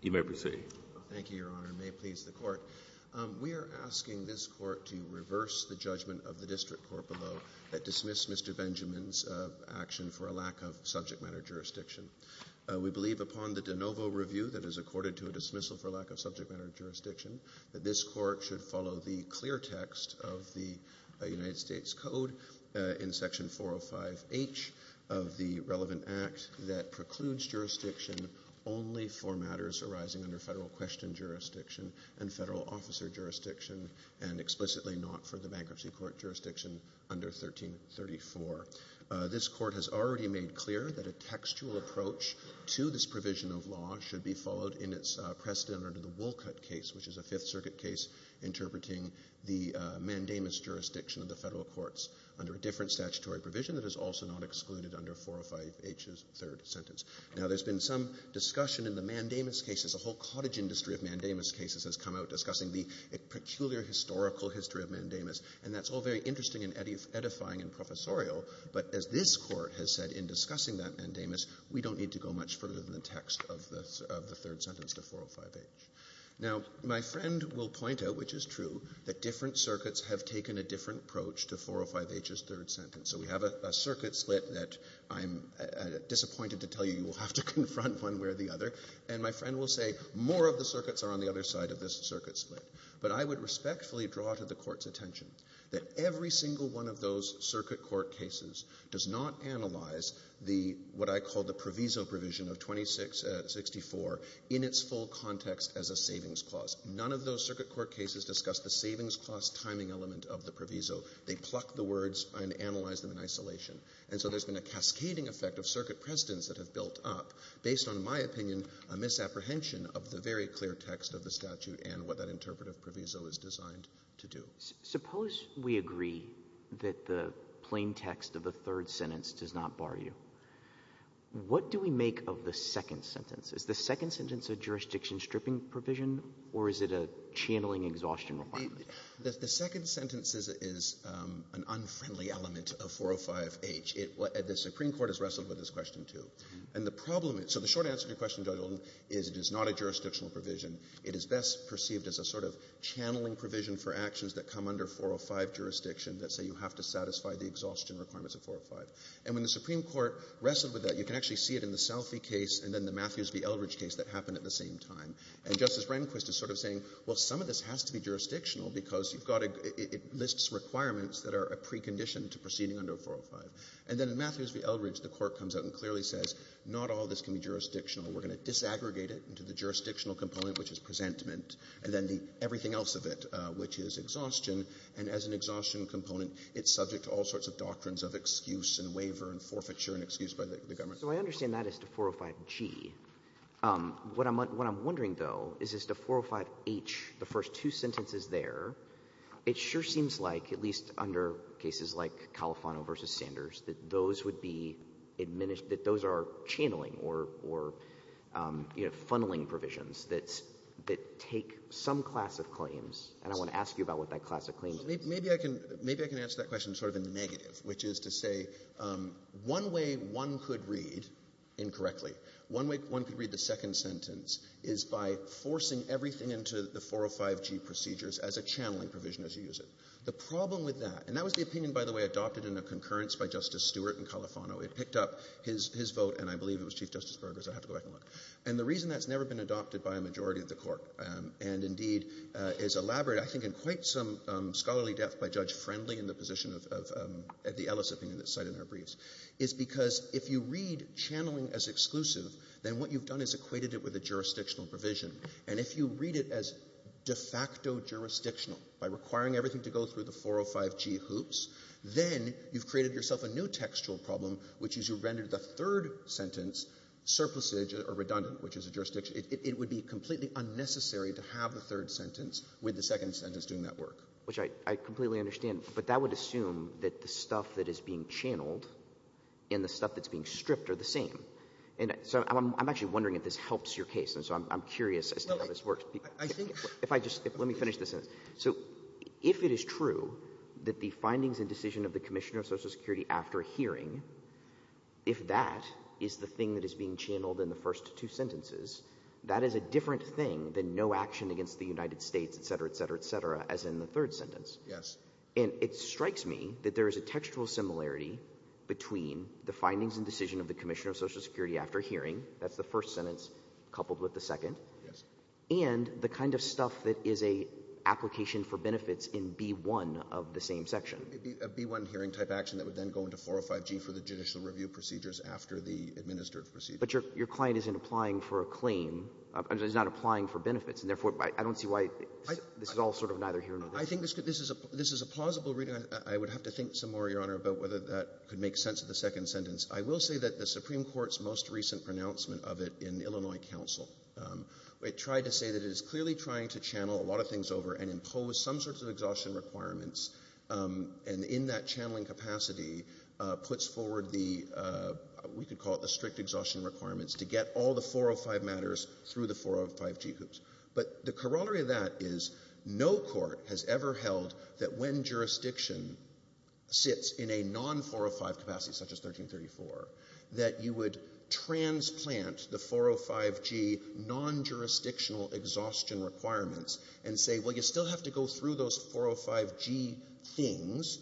You may proceed. Thank you, Your Honor. We are asking this Court to reverse the judgment of the District Court below that dismissed Mr. Benjamin's action for a lack of subject matter jurisdiction. We believe upon the de novo review that is accorded to a dismissal for lack of subject matter jurisdiction that this Court should follow the clear text of the United States Code in Section 405H of the relevant Act that precludes jurisdiction only for matters arising under Federal Question Jurisdiction and Federal Officer Jurisdiction and explicitly not for the Bankruptcy Court Jurisdiction under 1334. This Court has already made clear that a textual approach to this provision of law should be followed in its precedent under the Wolcott case, which is a Fifth Circuit case interpreting the mandamus jurisdiction of the Federal Courts under a different statutory provision that is also not excluded under 405H's third sentence. Now, there's been some discussion in the mandamus cases. A whole cottage industry of mandamus cases has come out discussing the peculiar historical history of mandamus, and that's all very interesting and edifying and professorial. But as this Court has said in discussing that mandamus, we don't need to go much further than the text of the third sentence to 405H. Now, my friend will point out, which is true, that different circuits have taken a different approach to 405H's third sentence. So we have a circuit split that I'm disappointed to tell you you will have to confront one way or the other, and my friend will say more of the circuits are on the other side of this circuit split. But I would respectfully draw to the Court's attention that every single one of those circuit court cases does not analyze the, what I call the proviso provision of 2664 in its full context as a savings clause. None of those circuit court cases discuss the savings clause timing element of the proviso. They pluck the words and analyze them in isolation. And so there's been a cascading effect of circuit precedents that have built up, based on my opinion, a misapprehension of the very clear text of the statute and what that interpretive proviso is designed to do. Suppose we agree that the plain text of the third sentence does not bar you. What do we make of the second sentence? Is the second sentence a jurisdiction stripping provision, or is it a channeling exhaustion requirement? The second sentence is an unfriendly element of 405H. The Supreme Court has wrestled with this question, too. And the problem is so the short answer to your question, Judge Oldham, is it is not a jurisdictional provision. It is best perceived as a sort of channeling provision for actions that come under 405 jurisdiction that say you have to satisfy the exhaustion requirements of 405. And when the Supreme Court wrestled with that, you can actually see it in the Salfi case and then the Matthews v. Eldridge case that happened at the same time. And Justice Rehnquist is sort of saying, well, some of this has to be jurisdictional because you've got to — it lists requirements that are a precondition to proceeding under 405. And then in Matthews v. Eldridge, the Court comes out and clearly says not all of this can be jurisdictional. We're going to disaggregate it into the jurisdictional component, which is presentment, and then the — everything else of it, which is exhaustion. And as an exhaustion component, it's subject to all sorts of doctrines of excuse and waiver and forfeiture and excuse by the government. So I understand that as to 405G. What I'm wondering, though, is as to 405H, the first two sentences there, it sure seems like, at least under cases like Califano v. Sanders, that those would be — that those are channeling or, you know, funneling provisions that take some class of claims. And I want to ask you about what that class of claims is. Maybe I can answer that question sort of in the negative, which is to say one way one could read — incorrectly — one way one could read the second sentence is by forcing everything into the 405G procedures as a channeling provision as you use it. The problem with that — and that was the opinion, by the way, adopted in a concurrence by Justice Stewart in Califano. It picked up his vote, and I believe it was Chief Justice Berger's. I'll have to go back and look. And the reason that's never been adopted by a majority of the Court and, indeed, is elaborate, I think, in quite some scholarly depth by Judge Friendly in the position of the Ellis opinion that's cited in our briefs, is because if you read channeling as exclusive, then what you've done is equated it with a jurisdictional provision. And if you read it as de facto jurisdictional, by requiring everything to go through the 405G hoops, then you've created yourself a new textual problem, which is you've rendered the third sentence surplusage or redundant, which is a jurisdiction. It would be completely unnecessary to have the third sentence with the second sentence doing that work. Which I completely understand, but that would assume that the stuff that is being channeled and the stuff that's being stripped are the same. And so I'm actually wondering if this helps your case, and so I'm curious as to how this works. I think — If I just — let me finish this sentence. So if it is true that the findings and decision of the Commissioner of Social Security after hearing, if that is the thing that is being channeled in the first two sentences, that is a different thing than no action against the United States, et cetera, et cetera, et cetera, the third sentence. Yes. And it strikes me that there is a textual similarity between the findings and decision of the Commissioner of Social Security after hearing — that's the first sentence coupled with the second — Yes. — and the kind of stuff that is a application for benefits in B1 of the same section. It would be a B1 hearing-type action that would then go into 405G for the judicial review procedures after the administered procedures. But your client isn't applying for a claim — is not applying for benefits, and therefore I don't see why this is all sort of neither here nor there. I think this is a plausible reading. I would have to think some more, Your Honor, about whether that could make sense of the second sentence. I will say that the Supreme Court's most recent pronouncement of it in Illinois counsel, it tried to say that it is clearly trying to channel a lot of things over and impose some sorts of exhaustion requirements, and in that channeling capacity puts forward the — we could call it the strict exhaustion requirements to get all the 405 matters through the 405G hoops. But the corollary of that is no court has ever held that when jurisdiction sits in a non-405 capacity, such as 1334, that you would transplant the 405G non-jurisdictional exhaustion requirements and say, well, you still have to go through those 405G things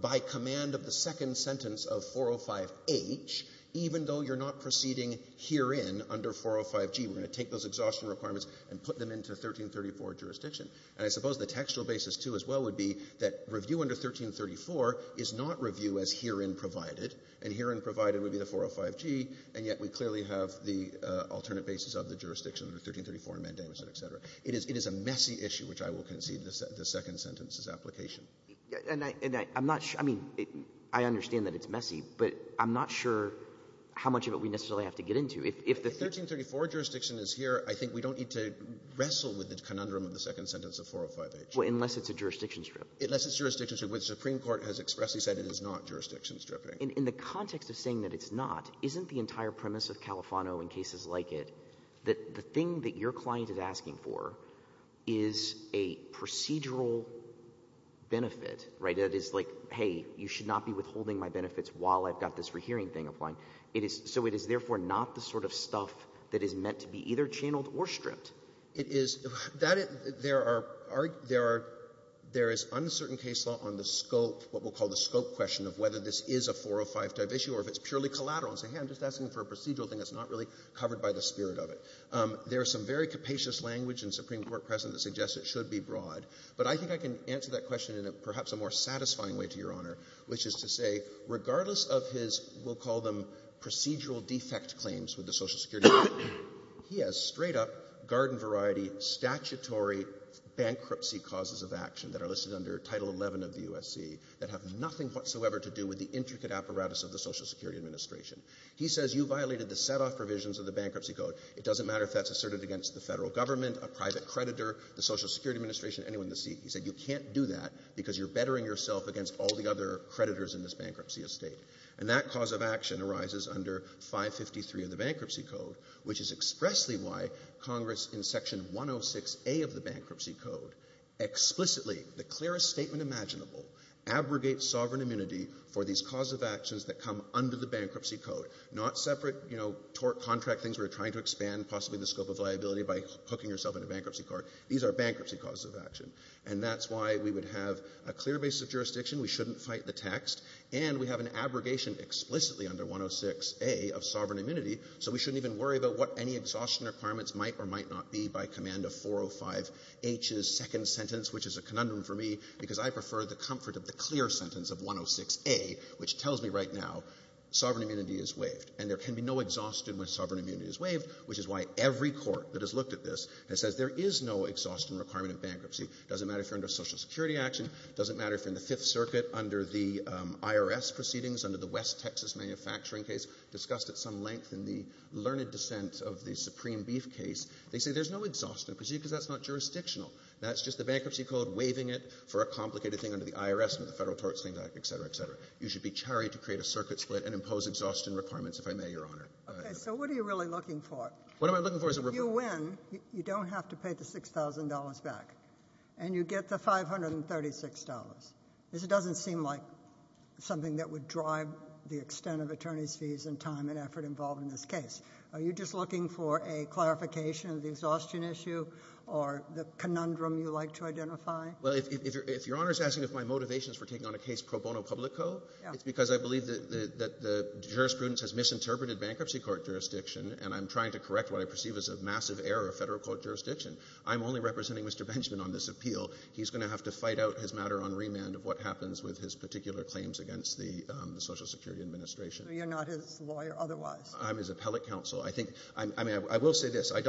by command of the second sentence of 405H, even though you're not proceeding herein under 405G. We're going to take those exhaustion requirements and put them into 1334 jurisdiction. And I suppose the textual basis, too, as well, would be that review under 1334 is not review as herein provided, and herein provided would be the 405G, and yet we clearly have the alternate basis of the jurisdiction under 1334 in Mandamus and et cetera. It is a messy issue, which I will concede the second sentence is application. And I'm not — I mean, I understand that it's messy, but I'm not sure how much of it we necessarily have to get into. If the 1334 jurisdiction is here, I think we don't need to wrestle with the conundrum of the second sentence of 405H. Well, unless it's a jurisdiction strip. Unless it's jurisdiction strip, which the Supreme Court has expressly said it is not jurisdiction stripping. In the context of saying that it's not, isn't the entire premise of Califano in cases like it that the thing that your client is asking for is a procedural benefit, right? That is like, hey, you should not be withholding my benefits while I've got this hearing thing applying. It is — so it is therefore not the sort of stuff that is meant to be either channeled or stripped. It is — there are — there is uncertain case law on the scope, what we'll call the scope question of whether this is a 405-type issue or if it's purely collateral and say, hey, I'm just asking for a procedural thing that's not really covered by the spirit of it. There is some very capacious language in Supreme Court precedent that suggests it should be broad. But I think I can answer that question in perhaps a more satisfying way to Your Regardless of his — we'll call them procedural defect claims with the Social Security — he has straight-up garden-variety statutory bankruptcy causes of action that are listed under Title 11 of the USC that have nothing whatsoever to do with the intricate apparatus of the Social Security Administration. He says you violated the set-off provisions of the Bankruptcy Code. It doesn't matter if that's asserted against the federal government, a private creditor, the Social Security Administration, anyone in the seat. He said you can't do that because you're bettering yourself against all the other bankruptcy estate. And that cause of action arises under 553 of the Bankruptcy Code, which is expressly why Congress in Section 106A of the Bankruptcy Code explicitly, the clearest statement imaginable, abrogates sovereign immunity for these cause of actions that come under the Bankruptcy Code, not separate, you know, tort contract things where you're trying to expand possibly the scope of liability by hooking yourself in a bankruptcy court. These are bankruptcy causes of action. And that's why we would have a clear basis of jurisdiction. We shouldn't fight the text. And we have an abrogation explicitly under 106A of sovereign immunity, so we shouldn't even worry about what any exhaustion requirements might or might not be by command of 405H's second sentence, which is a conundrum for me because I prefer the comfort of the clear sentence of 106A, which tells me right now sovereign immunity is waived. And there can be no exhaustion when sovereign immunity is waived, which is why every court that has looked at this and says there is no exhaustion requirement of bankruptcy. It doesn't matter if you're under Social Security action. It doesn't matter if you're in the Fifth Circuit under the IRS proceedings, under the West Texas manufacturing case, discussed at some length in the learned dissent of the Supreme Beef case. They say there's no exhaustion because that's not jurisdictional. That's just the Bankruptcy Code waiving it for a complicated thing under the IRS, under the Federal Tort Statement Act, et cetera, et cetera. You should be charried to create a circuit split and impose exhaustion requirements, if I may, Your Honor. Okay. So what are you really looking for? What am I looking for is a report. If you win, you don't have to pay the $6,000 back, and you get the $536, because it doesn't seem like something that would drive the extent of attorney's fees and time and effort involved in this case. Are you just looking for a clarification of the exhaustion issue or the conundrum you like to identify? Well, if Your Honor is asking if my motivation is for taking on a case pro bono publico, it's because I believe that the jurisprudence has misinterpreted and I'm trying to correct what I perceive as a massive error of Federal court jurisdiction. I'm only representing Mr. Benjamin on this appeal. He's going to have to fight out his matter on remand of what happens with his particular claims against the Social Security Administration. So you're not his lawyer otherwise? I'm his appellate counsel. I think — I mean, I will say this. I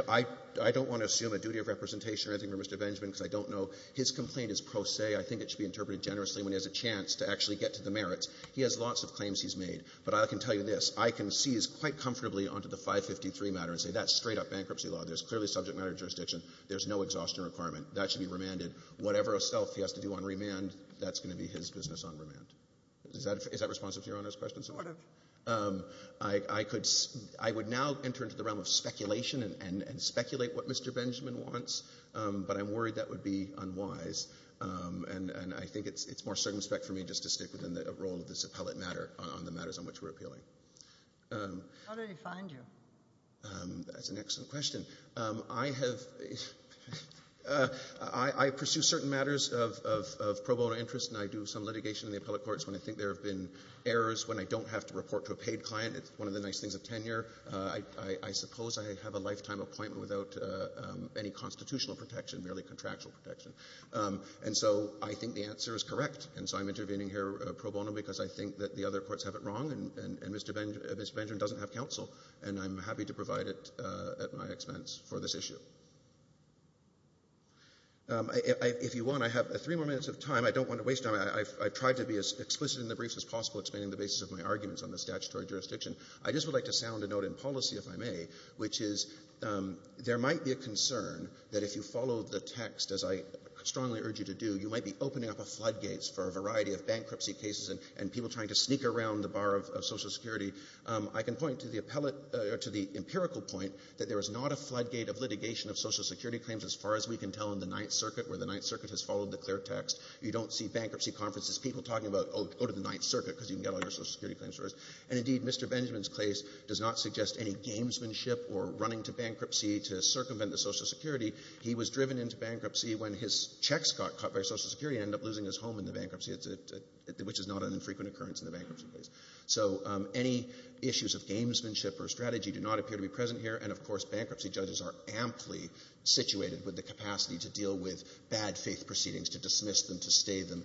don't want to assume a duty of representation or anything for Mr. Benjamin, because I don't know. His complaint is pro se. I think it should be interpreted generously when he has a chance to actually get to the merits. He has lots of claims he's made. But I can tell you this. I can seize quite comfortably onto the 553 matter and say that's straight-up bankruptcy law. There's clearly subject matter jurisdiction. There's no exhaustion requirement. That should be remanded. Whatever itself he has to do on remand, that's going to be his business on remand. Is that responsive to Your Honor's question? Sort of. I could — I would now enter into the realm of speculation and speculate what Mr. Benjamin wants, but I'm worried that would be unwise, and I think it's more circumspect for me just to stick within the role of this appellate matter on the matters on which we're appealing. How did he find you? That's an excellent question. I have — I pursue certain matters of pro bono interest, and I do some litigation in the appellate courts when I think there have been errors, when I don't have to report to a paid client. It's one of the nice things of tenure. I suppose I have a lifetime appointment without any constitutional protection, merely contractual protection. And so I think the answer is correct, and so I'm intervening here pro bono because I think that the other courts have it wrong, and Mr. Benjamin doesn't have counsel, and I'm happy to provide it at my expense for this issue. If you want, I have three more minutes of time. I don't want to waste time. I've tried to be as explicit in the briefs as possible, explaining the basis of my arguments on the statutory jurisdiction. I just would like to sound a note in policy, if I may, which is there might be a concern that if you follow the text, as I strongly urge you to do, you might be people trying to sneak around the bar of Social Security. I can point to the empirical point that there is not a floodgate of litigation of Social Security claims as far as we can tell in the Ninth Circuit, where the Ninth Circuit has followed the clear text. You don't see bankruptcy conferences, people talking about, oh, go to the Ninth Circuit because you can get all your Social Security claims first. And indeed, Mr. Benjamin's case does not suggest any gamesmanship or running to bankruptcy to circumvent the Social Security. He was driven into bankruptcy when his checks got cut by Social Security and ended up losing his home in the bankruptcy, which is not an infrequent occurrence in the bankruptcy case. So any issues of gamesmanship or strategy do not appear to be present here. And, of course, bankruptcy judges are amply situated with the capacity to deal with bad faith proceedings, to dismiss them, to stay them,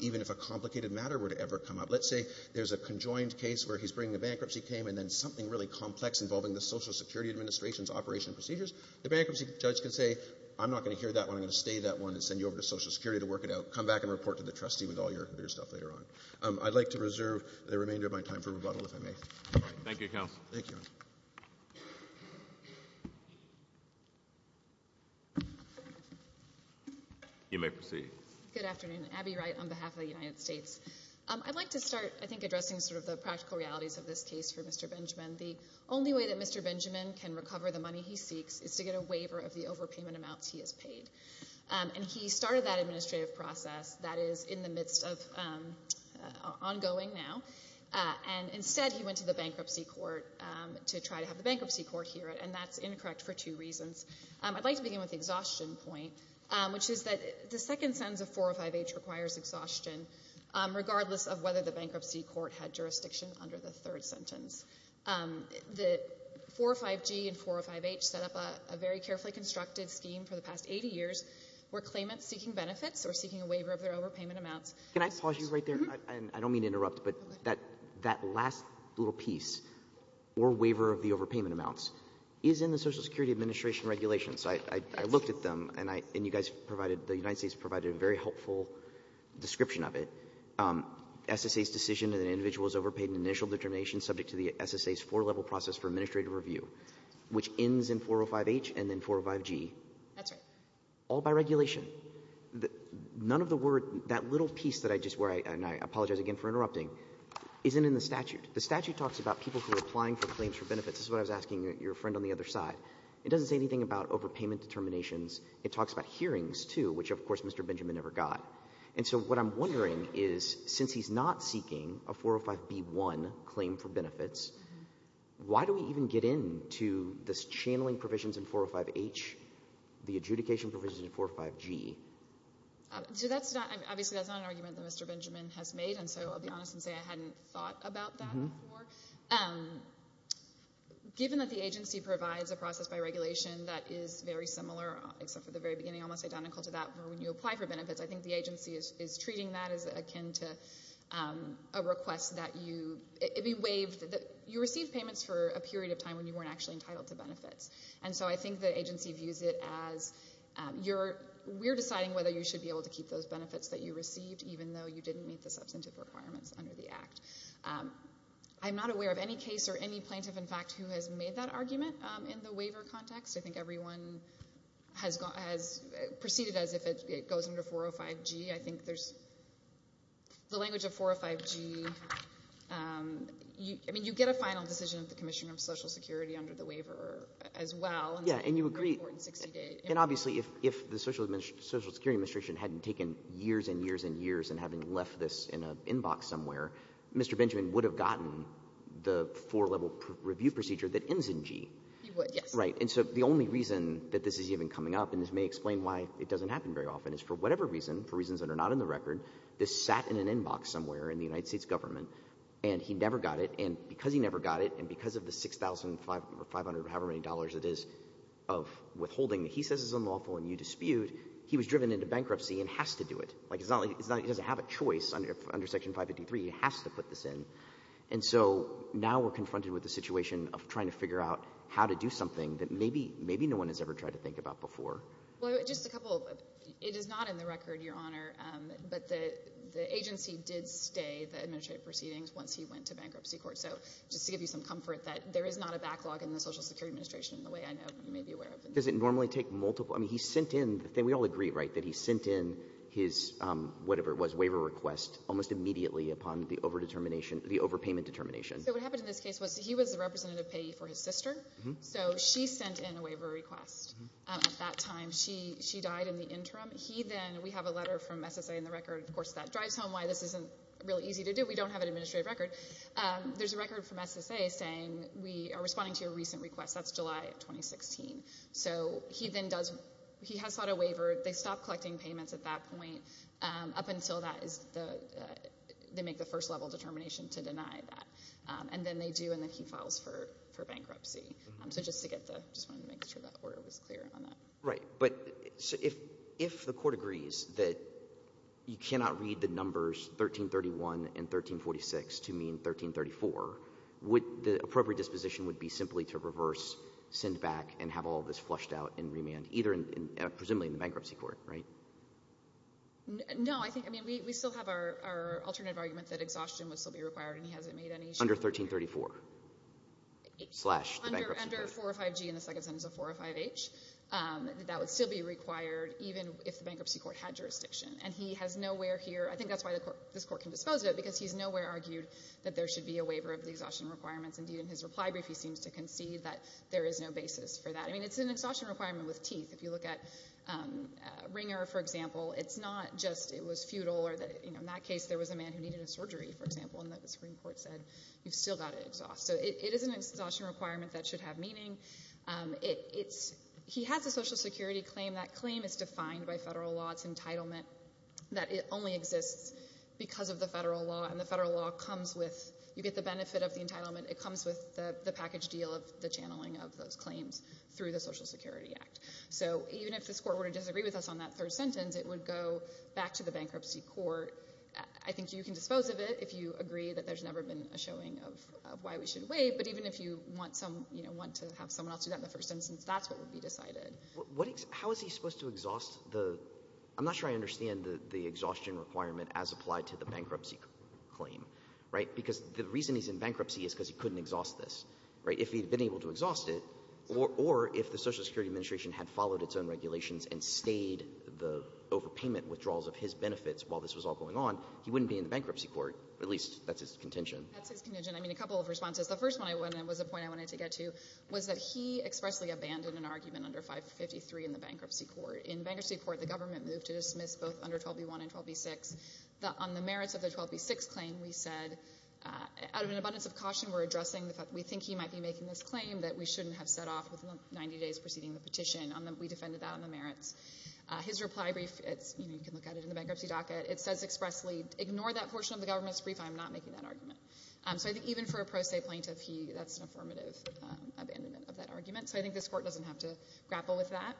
even if a complicated matter were to ever come up. Let's say there's a conjoined case where he's bringing a bankruptcy claim and then something really complex involving the Social Security Administration's operation and procedures. The bankruptcy judge can say, I'm not going to hear that one, I'm going to stay that one and send you over to Social Security to work it out. Come back and report to the trustee with all your stuff later on. I'd like to reserve the remainder of my time for rebuttal, if I may. Thank you, counsel. Thank you. You may proceed. Good afternoon. Abby Wright on behalf of the United States. I'd like to start, I think, addressing sort of the practical realities of this case for Mr. Benjamin. The only way that Mr. Benjamin can recover the money he seeks is to get a waiver of the overpayment amounts he has paid. And he started that administrative process that is in the midst of ongoing now. And instead, he went to the bankruptcy court to try to have the bankruptcy court hear it, and that's incorrect for two reasons. I'd like to begin with the exhaustion point, which is that the second sentence of 405H requires exhaustion, regardless of whether the bankruptcy court had jurisdiction under the third sentence. The 405G and 405H set up a very carefully constructed scheme for the past 80 years where claimants seeking benefits or seeking a waiver of their overpayment amounts. Can I pause you right there? I don't mean to interrupt, but that last little piece, or waiver of the overpayment amounts, is in the Social Security Administration regulations. I looked at them, and you guys provided, the United States provided a very helpful description of it. SSA's decision that an individual is overpaid in initial determination subject to the SSA's four-level process for administrative review, which ends in 405H and then 405G. That's right. All by regulation. None of the word, that little piece that I just, and I apologize again for interrupting, isn't in the statute. The statute talks about people who are applying for claims for benefits. This is what I was asking your friend on the other side. It doesn't say anything about overpayment determinations. It talks about hearings, too, which, of course, Mr. Benjamin never got. What I'm wondering is, since he's not seeking a 405B1 claim for benefits, why do we even get into this channeling provisions in 405H, the adjudication provisions in 405G? Obviously, that's not an argument that Mr. Benjamin has made, so I'll be honest and say I hadn't thought about that before. Given that the agency provides a process by regulation that is very similar, except for the very beginning, almost identical to that for when you apply for benefits, I think the agency is treating that as akin to a request that you, it'd be waived, that you received payments for a period of time when you weren't actually entitled to benefits. I think the agency views it as, we're deciding whether you should be able to keep those benefits that you received, even though you didn't meet the substantive requirements under the Act. I'm not aware of any case or any plaintiff, in fact, who has made that argument in the waiver context. I think everyone has proceeded as if it goes under 405G. I think there's, the language of 405G, I mean, you get a final decision of the Commission of Social Security under the waiver as well. Yeah, and you agree, and obviously if the Social Security Administration hadn't taken years and years and years and having left this in an inbox somewhere, Mr. Benjamin would have gotten the four-level review procedure that ends in G. He would, yes. Right. And so the only reason that this is even coming up, and this may explain why it doesn't happen very often, is for whatever reason, for reasons that are not in the record, this sat in an inbox somewhere in the United States government, and he never got it. And because he never got it, and because of the $6,500 or however many dollars it is of withholding that he says is unlawful and you dispute, he was driven into bankruptcy and has to do it. Like, it's not like he doesn't have a choice under Section 553. He has to put this in. And so now we're confronted with the situation of trying to figure out how to do something that maybe, maybe no one has ever tried to think about before. Well, just a couple of, it is not in the record, Your Honor, but the agency did stay the administrative proceedings once he went to bankruptcy court. So just to give you some comfort that there is not a backlog in the Social Security Administration in the way I know you may be aware of. Does it normally take multiple? I mean, he sent in, we all agree, right, that he sent in his, whatever it was, waiver request almost immediately upon the overdetermination, the overpayment determination. So what happened in this case was he was the representative payee for his sister, so she sent in a waiver request at that time. She died in the interim. He then, we have a letter from SSA in the record, of course, that drives home why this isn't really easy to do. We don't have an administrative record. There's a record from SSA saying we are responding to your recent request. That's July of 2016. So he then does, he has sought a waiver. They stop collecting payments at that point up until that is the, they make the first level determination to deny that. And then they do and then he files for bankruptcy. So just to get the, just wanted to make sure that order was clear on that. Right. But if the court agrees that you cannot read the numbers 1331 and 1346 to mean 1334, would the appropriate disposition would be simply to reverse, send back, and have all this flushed out in remand, either in, presumably in the bankruptcy court, right? No, I think, I mean, we still have our alternative argument that exhaustion would still be required and he hasn't made any sure. Under 1334. Under 405G and the second sentence of 405H, that would still be required even if the bankruptcy court had jurisdiction. And he has nowhere here, I think that's why this court can dispose of it because he's nowhere argued that there should be a waiver of the exhaustion requirements. Indeed, in his reply brief, he seems to concede that there is no basis for that. I mean, it's an exhaustion requirement with teeth. If you look at Ringer, for example, it's not just it was futile or that, you know, in that case, there was a man who needed a surgery, for example, and the Supreme Court had to exhaust. So, it is an exhaustion requirement that should have meaning. He has a Social Security claim. That claim is defined by federal law, it's entitlement, that it only exists because of the federal law and the federal law comes with, you get the benefit of the entitlement, it comes with the package deal of the channeling of those claims through the Social Security Act. So, even if this court were to disagree with us on that third sentence, it would go back to the bankruptcy court. I think you can dispose of it if you agree that there's never been a showing of why we should wait, but even if you want some, you know, want to have someone else do that in the first instance, that's what would be decided. How is he supposed to exhaust the — I'm not sure I understand the exhaustion requirement as applied to the bankruptcy claim, right? Because the reason he's in bankruptcy is because he couldn't exhaust this, right? If he'd been able to exhaust it, or if the Social Security Administration had followed its own regulations and stayed the overpayment withdrawals of his benefits while this was all going on, he wouldn't be in the bankruptcy court, or at least that's his contention. That's his contention. I mean, a couple of responses. The first one I want to — was a point I wanted to get to, was that he expressly abandoned an argument under 553 in the bankruptcy court. In bankruptcy court, the government moved to dismiss both under 12b-1 and 12b-6. On the merits of the 12b-6 claim, we said, out of an abundance of caution, we're addressing the fact that we think he might be making this claim that we shouldn't have set off with 90 days preceding the petition. We defended that on the merits. His reply brief, you know, you can look at it in the bankruptcy docket. It says expressly, ignore that portion of the government's brief. I'm not making that argument. So I think even for a pro se plaintiff, that's an affirmative abandonment of that argument. So I think this court doesn't have to grapple with that.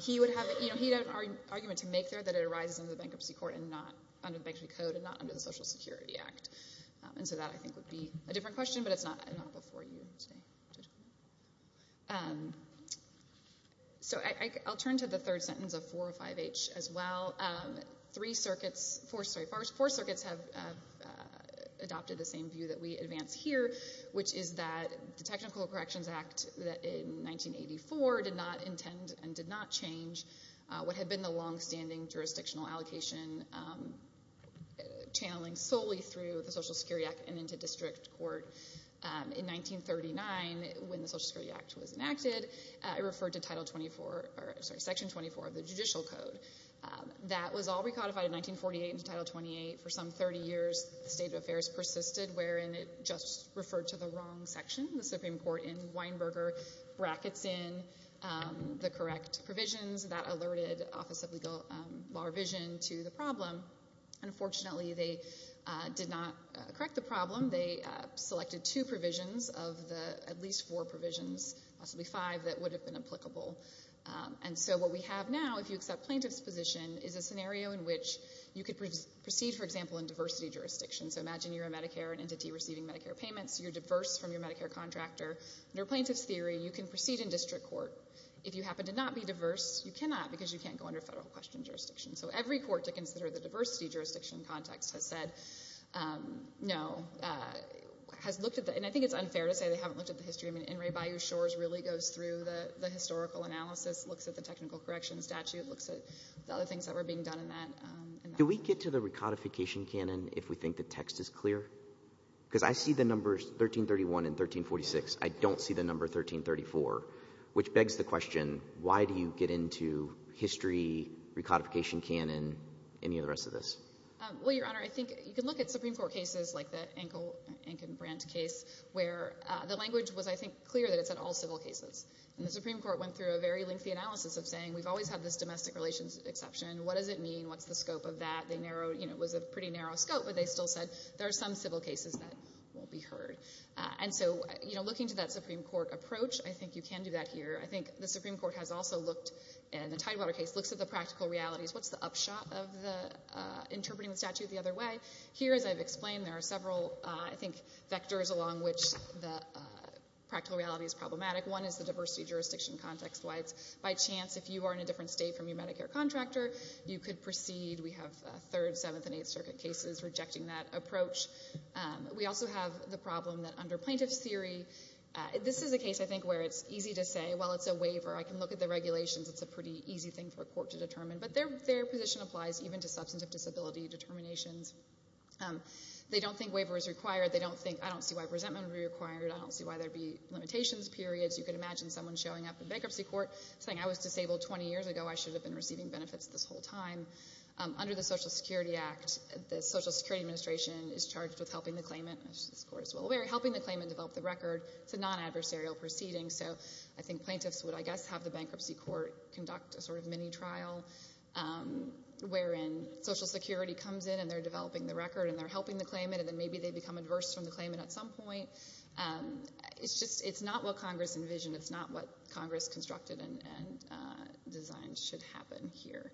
He would have — you know, he'd have an argument to make there that it arises under the bankruptcy court and not under the bankruptcy code and not under the Social Security Act. And so that, I think, would be a different question, but it's not before you today. So I'll turn to the third sentence of 405H as well. Three circuits — sorry, four circuits have adopted the same view that we advance here, which is that the Technical Corrections Act in 1984 did not intend and did not change what had been the longstanding jurisdictional allocation channeling solely through the Social Security Act and into district court. In 1939, when the Social Security Act was enacted, it referred to Title 24 — or, sorry, that was all recodified in 1948 into Title 28. For some 30 years, the State of Affairs persisted, wherein it just referred to the wrong section. The Supreme Court in Weinberger brackets in the correct provisions that alerted Office of Legal — Law Revision to the problem. Unfortunately, they did not correct the problem. They selected two provisions of the — at least four provisions, possibly five, that would have been applicable. And so what we have now, if you accept plaintiff's position, is a scenario in which you could proceed, for example, in diversity jurisdiction. So imagine you're a Medicare, an entity receiving Medicare payments, you're diverse from your Medicare contractor. Under plaintiff's theory, you can proceed in district court. If you happen to not be diverse, you cannot, because you can't go under federal question jurisdiction. So every court to consider the diversity jurisdiction context has said no, has looked at the — and I think it's unfair to say they haven't looked at the history. I mean, In re Bayou Shores really goes through the historical analysis, looks at the technical corrections statute, looks at the other things that were being done in that. Can we get to the recodification canon if we think the text is clear? Because I see the numbers 1331 and 1346. I don't see the number 1334, which begs the question, why do you get into history, recodification canon, any of the rest of this? Well, Your Honor, I think you can look at Supreme Court cases like the Anken — Ankenbrand case where the language was, I think, clear that it's in all civil cases. And the Supreme Court went through a very lengthy analysis of saying, we've always had this domestic relations exception. What does it mean? What's the scope of that? They narrowed — you know, it was a pretty narrow scope, but they still said there are some civil cases that won't be heard. And so, you know, looking to that Supreme Court approach, I think you can do that here. I think the Supreme Court has also looked — and the Tidewater case looks at the practical realities. What's the upshot of the — interpreting the statute the other way? Here, as I've explained, there are several, I think, vectors along which the practical reality is problematic. One is the diversity jurisdiction context-wise. By chance, if you are in a different state from your Medicare contractor, you could proceed. We have third, seventh, and eighth circuit cases rejecting that approach. We also have the problem that under plaintiff's theory — this is a case, I think, where it's easy to say, well, it's a waiver. I can look at the regulations. It's a pretty easy thing for a court to determine. But their position applies even to substantive disability determinations. They don't think waiver is required. They don't think — I don't see why resentment would be required. I don't see why there would be limitations, periods. You could imagine someone showing up in bankruptcy court saying, I was disabled 20 years ago. I should have been receiving benefits this whole time. Under the Social Security Act, the Social Security Administration is charged with helping the claimant, as this court is well aware, helping the claimant develop the record. It's a non-adversarial proceeding, so I think plaintiffs would, I guess, have the bankruptcy court conduct a sort of mini-trial wherein Social Security comes in, and they're developing the record, and they're helping the claimant, and then maybe they become adverse from the claimant at some point. It's just — it's not what Congress envisioned. It's not what Congress constructed and designed should happen here.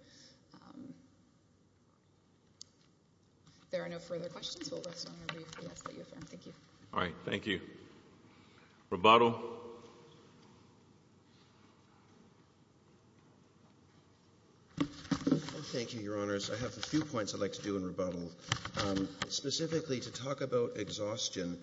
There are no further questions. We'll rest on our brief. We ask that you affirm. Thank you. All right. Thank you. Thank you. Rebuttal. Thank you, Your Honors. I have a few points I'd like to do in rebuttal. Specifically to talk about exhaustion,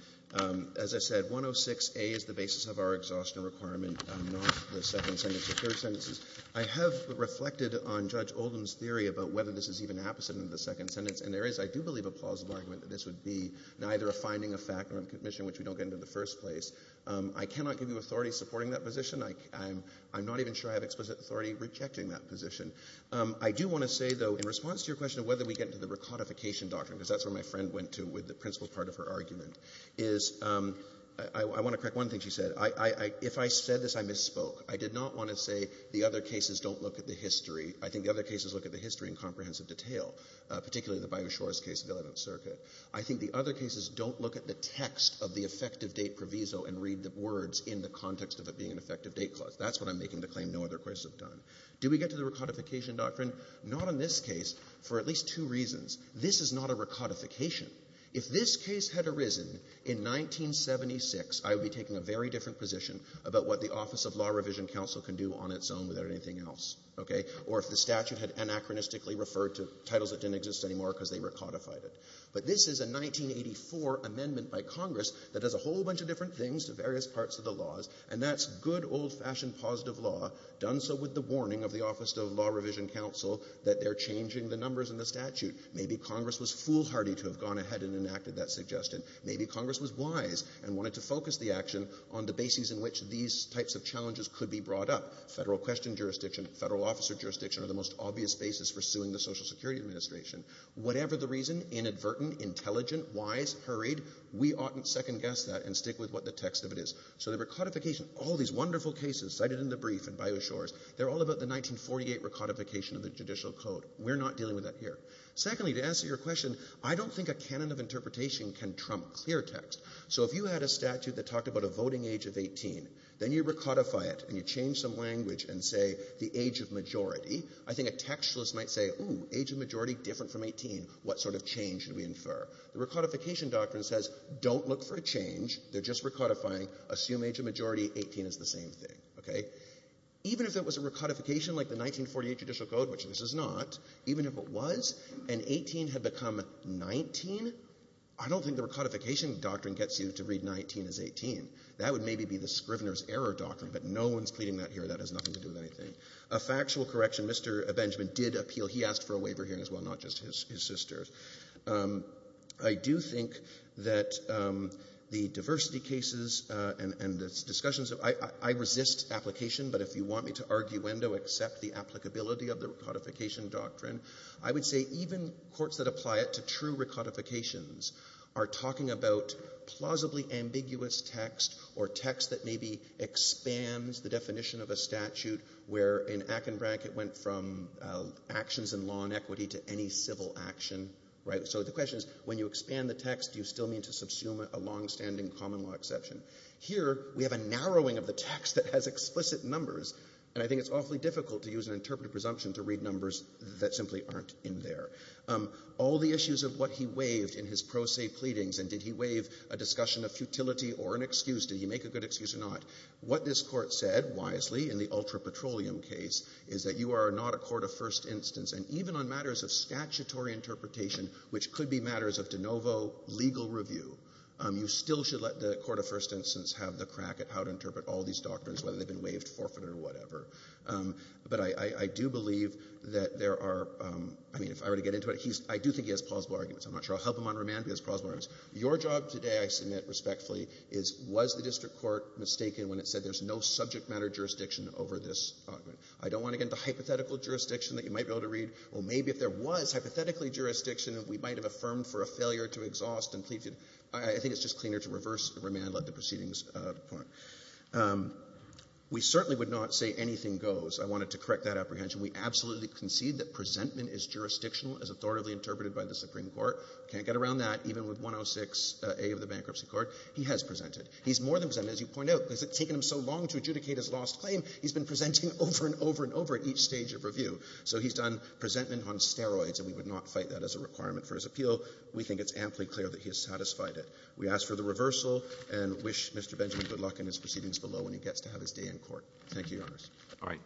as I said, 106A is the basis of our exhaustion requirement, not the second sentence or third sentences. I have reflected on Judge Oldham's theory about whether this is even apposite of the second sentence, and there is, I do believe, a plausible argument that this would be neither a finding of fact nor a commission which we don't get into in the first place. I cannot give you authority supporting that position. I'm not even sure I have explicit authority rejecting that position. I do want to say, though, in response to your question of whether we get into the recodification doctrine, because that's where my friend went to with the principle part of her argument, is I want to correct one thing she said. If I said this, I misspoke. I did not want to say the other cases don't look at the history. I think the other cases look at the history in comprehensive detail, particularly the Byers-Schwartz case of the Eleventh Circuit. I think the other cases don't look at the text of the effective date proviso and read the words in the context of it being an effective date clause. That's what I'm making the claim no other cases have done. Do we get to the recodification doctrine? Not in this case, for at least two reasons. This is not a recodification. If this case had arisen in 1976, I would be taking a very different position about what the Office of Law Revision Counsel can do on its own without anything else, okay? Or if the statute had anachronistically referred to titles that didn't exist anymore because they recodified it. But this is a 1984 amendment by Congress that does a whole bunch of different things to various parts of the laws, and that's good, old-fashioned positive law done so with the warning of the Office of Law Revision Counsel that they're changing the numbers in the statute. Maybe Congress was foolhardy to have gone ahead and enacted that suggestion. Maybe Congress was wise and wanted to focus the action on the basis in which these types of challenges could be brought up. Federal question jurisdiction, federal officer jurisdiction are the most obvious basis for suing the Social Security Administration. Whatever the reason, inadvertent, intelligent, wise, hurried, we oughtn't second-guess that and stick with what the text of it is. So the recodification, all these wonderful cases cited in the brief and by the shores, they're all about the 1948 recodification of the Judicial Code. We're not dealing with that here. Secondly, to answer your question, I don't think a canon of interpretation can trump clear text. So if you had a statute that talked about a voting age of 18, then you recodify it and you change some language and say the age of majority, I think a textualist might say, ooh, age of majority different from 18, what sort of change should we infer? The recodification doctrine says don't look for a change, they're just recodifying, assume age of majority, 18 is the same thing, okay? Even if it was a recodification like the 1948 Judicial Code, which this is not, even if it was and 18 had become 19, I don't think the recodification doctrine gets you to read 19 as 18. That would maybe be the Scrivener's Error doctrine, but no one's pleading that here. That has nothing to do with anything. A factual correction, Mr. Benjamin did appeal, he asked for a waiver hearing as well, not just his sisters. I do think that the diversity cases and the discussions of, I resist application, but if you want me to arguendo, accept the applicability of the recodification doctrine, I would say even courts that apply it to true recodifications are talking about plausibly ambiguous text or text that maybe expands the definition of a statute where in Akenbrank it went from actions in law and equity to any civil action, right? So the question is, when you expand the text, do you still mean to subsume a longstanding common law exception? Here we have a narrowing of the text that has explicit numbers, and I think it's awfully difficult to use an interpretive presumption to read numbers that simply aren't in there. All the issues of what he waived in his pro se pleadings, and did he waive a discussion of futility or an excuse, did he make a good excuse or not? What this court said, wisely, in the ultra petroleum case, is that you are not a court of first instance, and even on matters of statutory interpretation, which could be matters of de novo legal review, you still should let the court of first instance have the crack at how to interpret all these doctrines, whether they've been waived, forfeited, or whatever. But I do believe that there are, I mean, if I were to get into it, I do think he has plausible arguments. I'm not sure. I'll help him on remand, but he has plausible arguments. Your job today, I submit respectfully, is was the district court mistaken when it said there's no subject matter jurisdiction over this argument? I don't want to get into hypothetical jurisdiction that you might be able to read. Well, maybe if there was hypothetically jurisdiction, we might have affirmed for a failure to exhaust and plead. I think it's just cleaner to reverse remand, let the proceedings depart. We certainly would not say anything goes. I wanted to correct that apprehension. We absolutely concede that presentment is jurisdictional, as authoritatively interpreted by the Supreme Court. Can't get around that, even with 106A of the Bankruptcy Court. He has presented. He's more than presented, as you point out, because it's taken him so long to adjudicate his lost claim. He's been presenting over and over and over at each stage of review. So he's done presentment on steroids, and we would not fight that as a requirement for his appeal. We think it's amply clear that he has satisfied it. We ask for the reversal and wish Mr. Benjamin good luck in his proceedings below when he gets to have his day in court. Thank you, Your Honors. All right.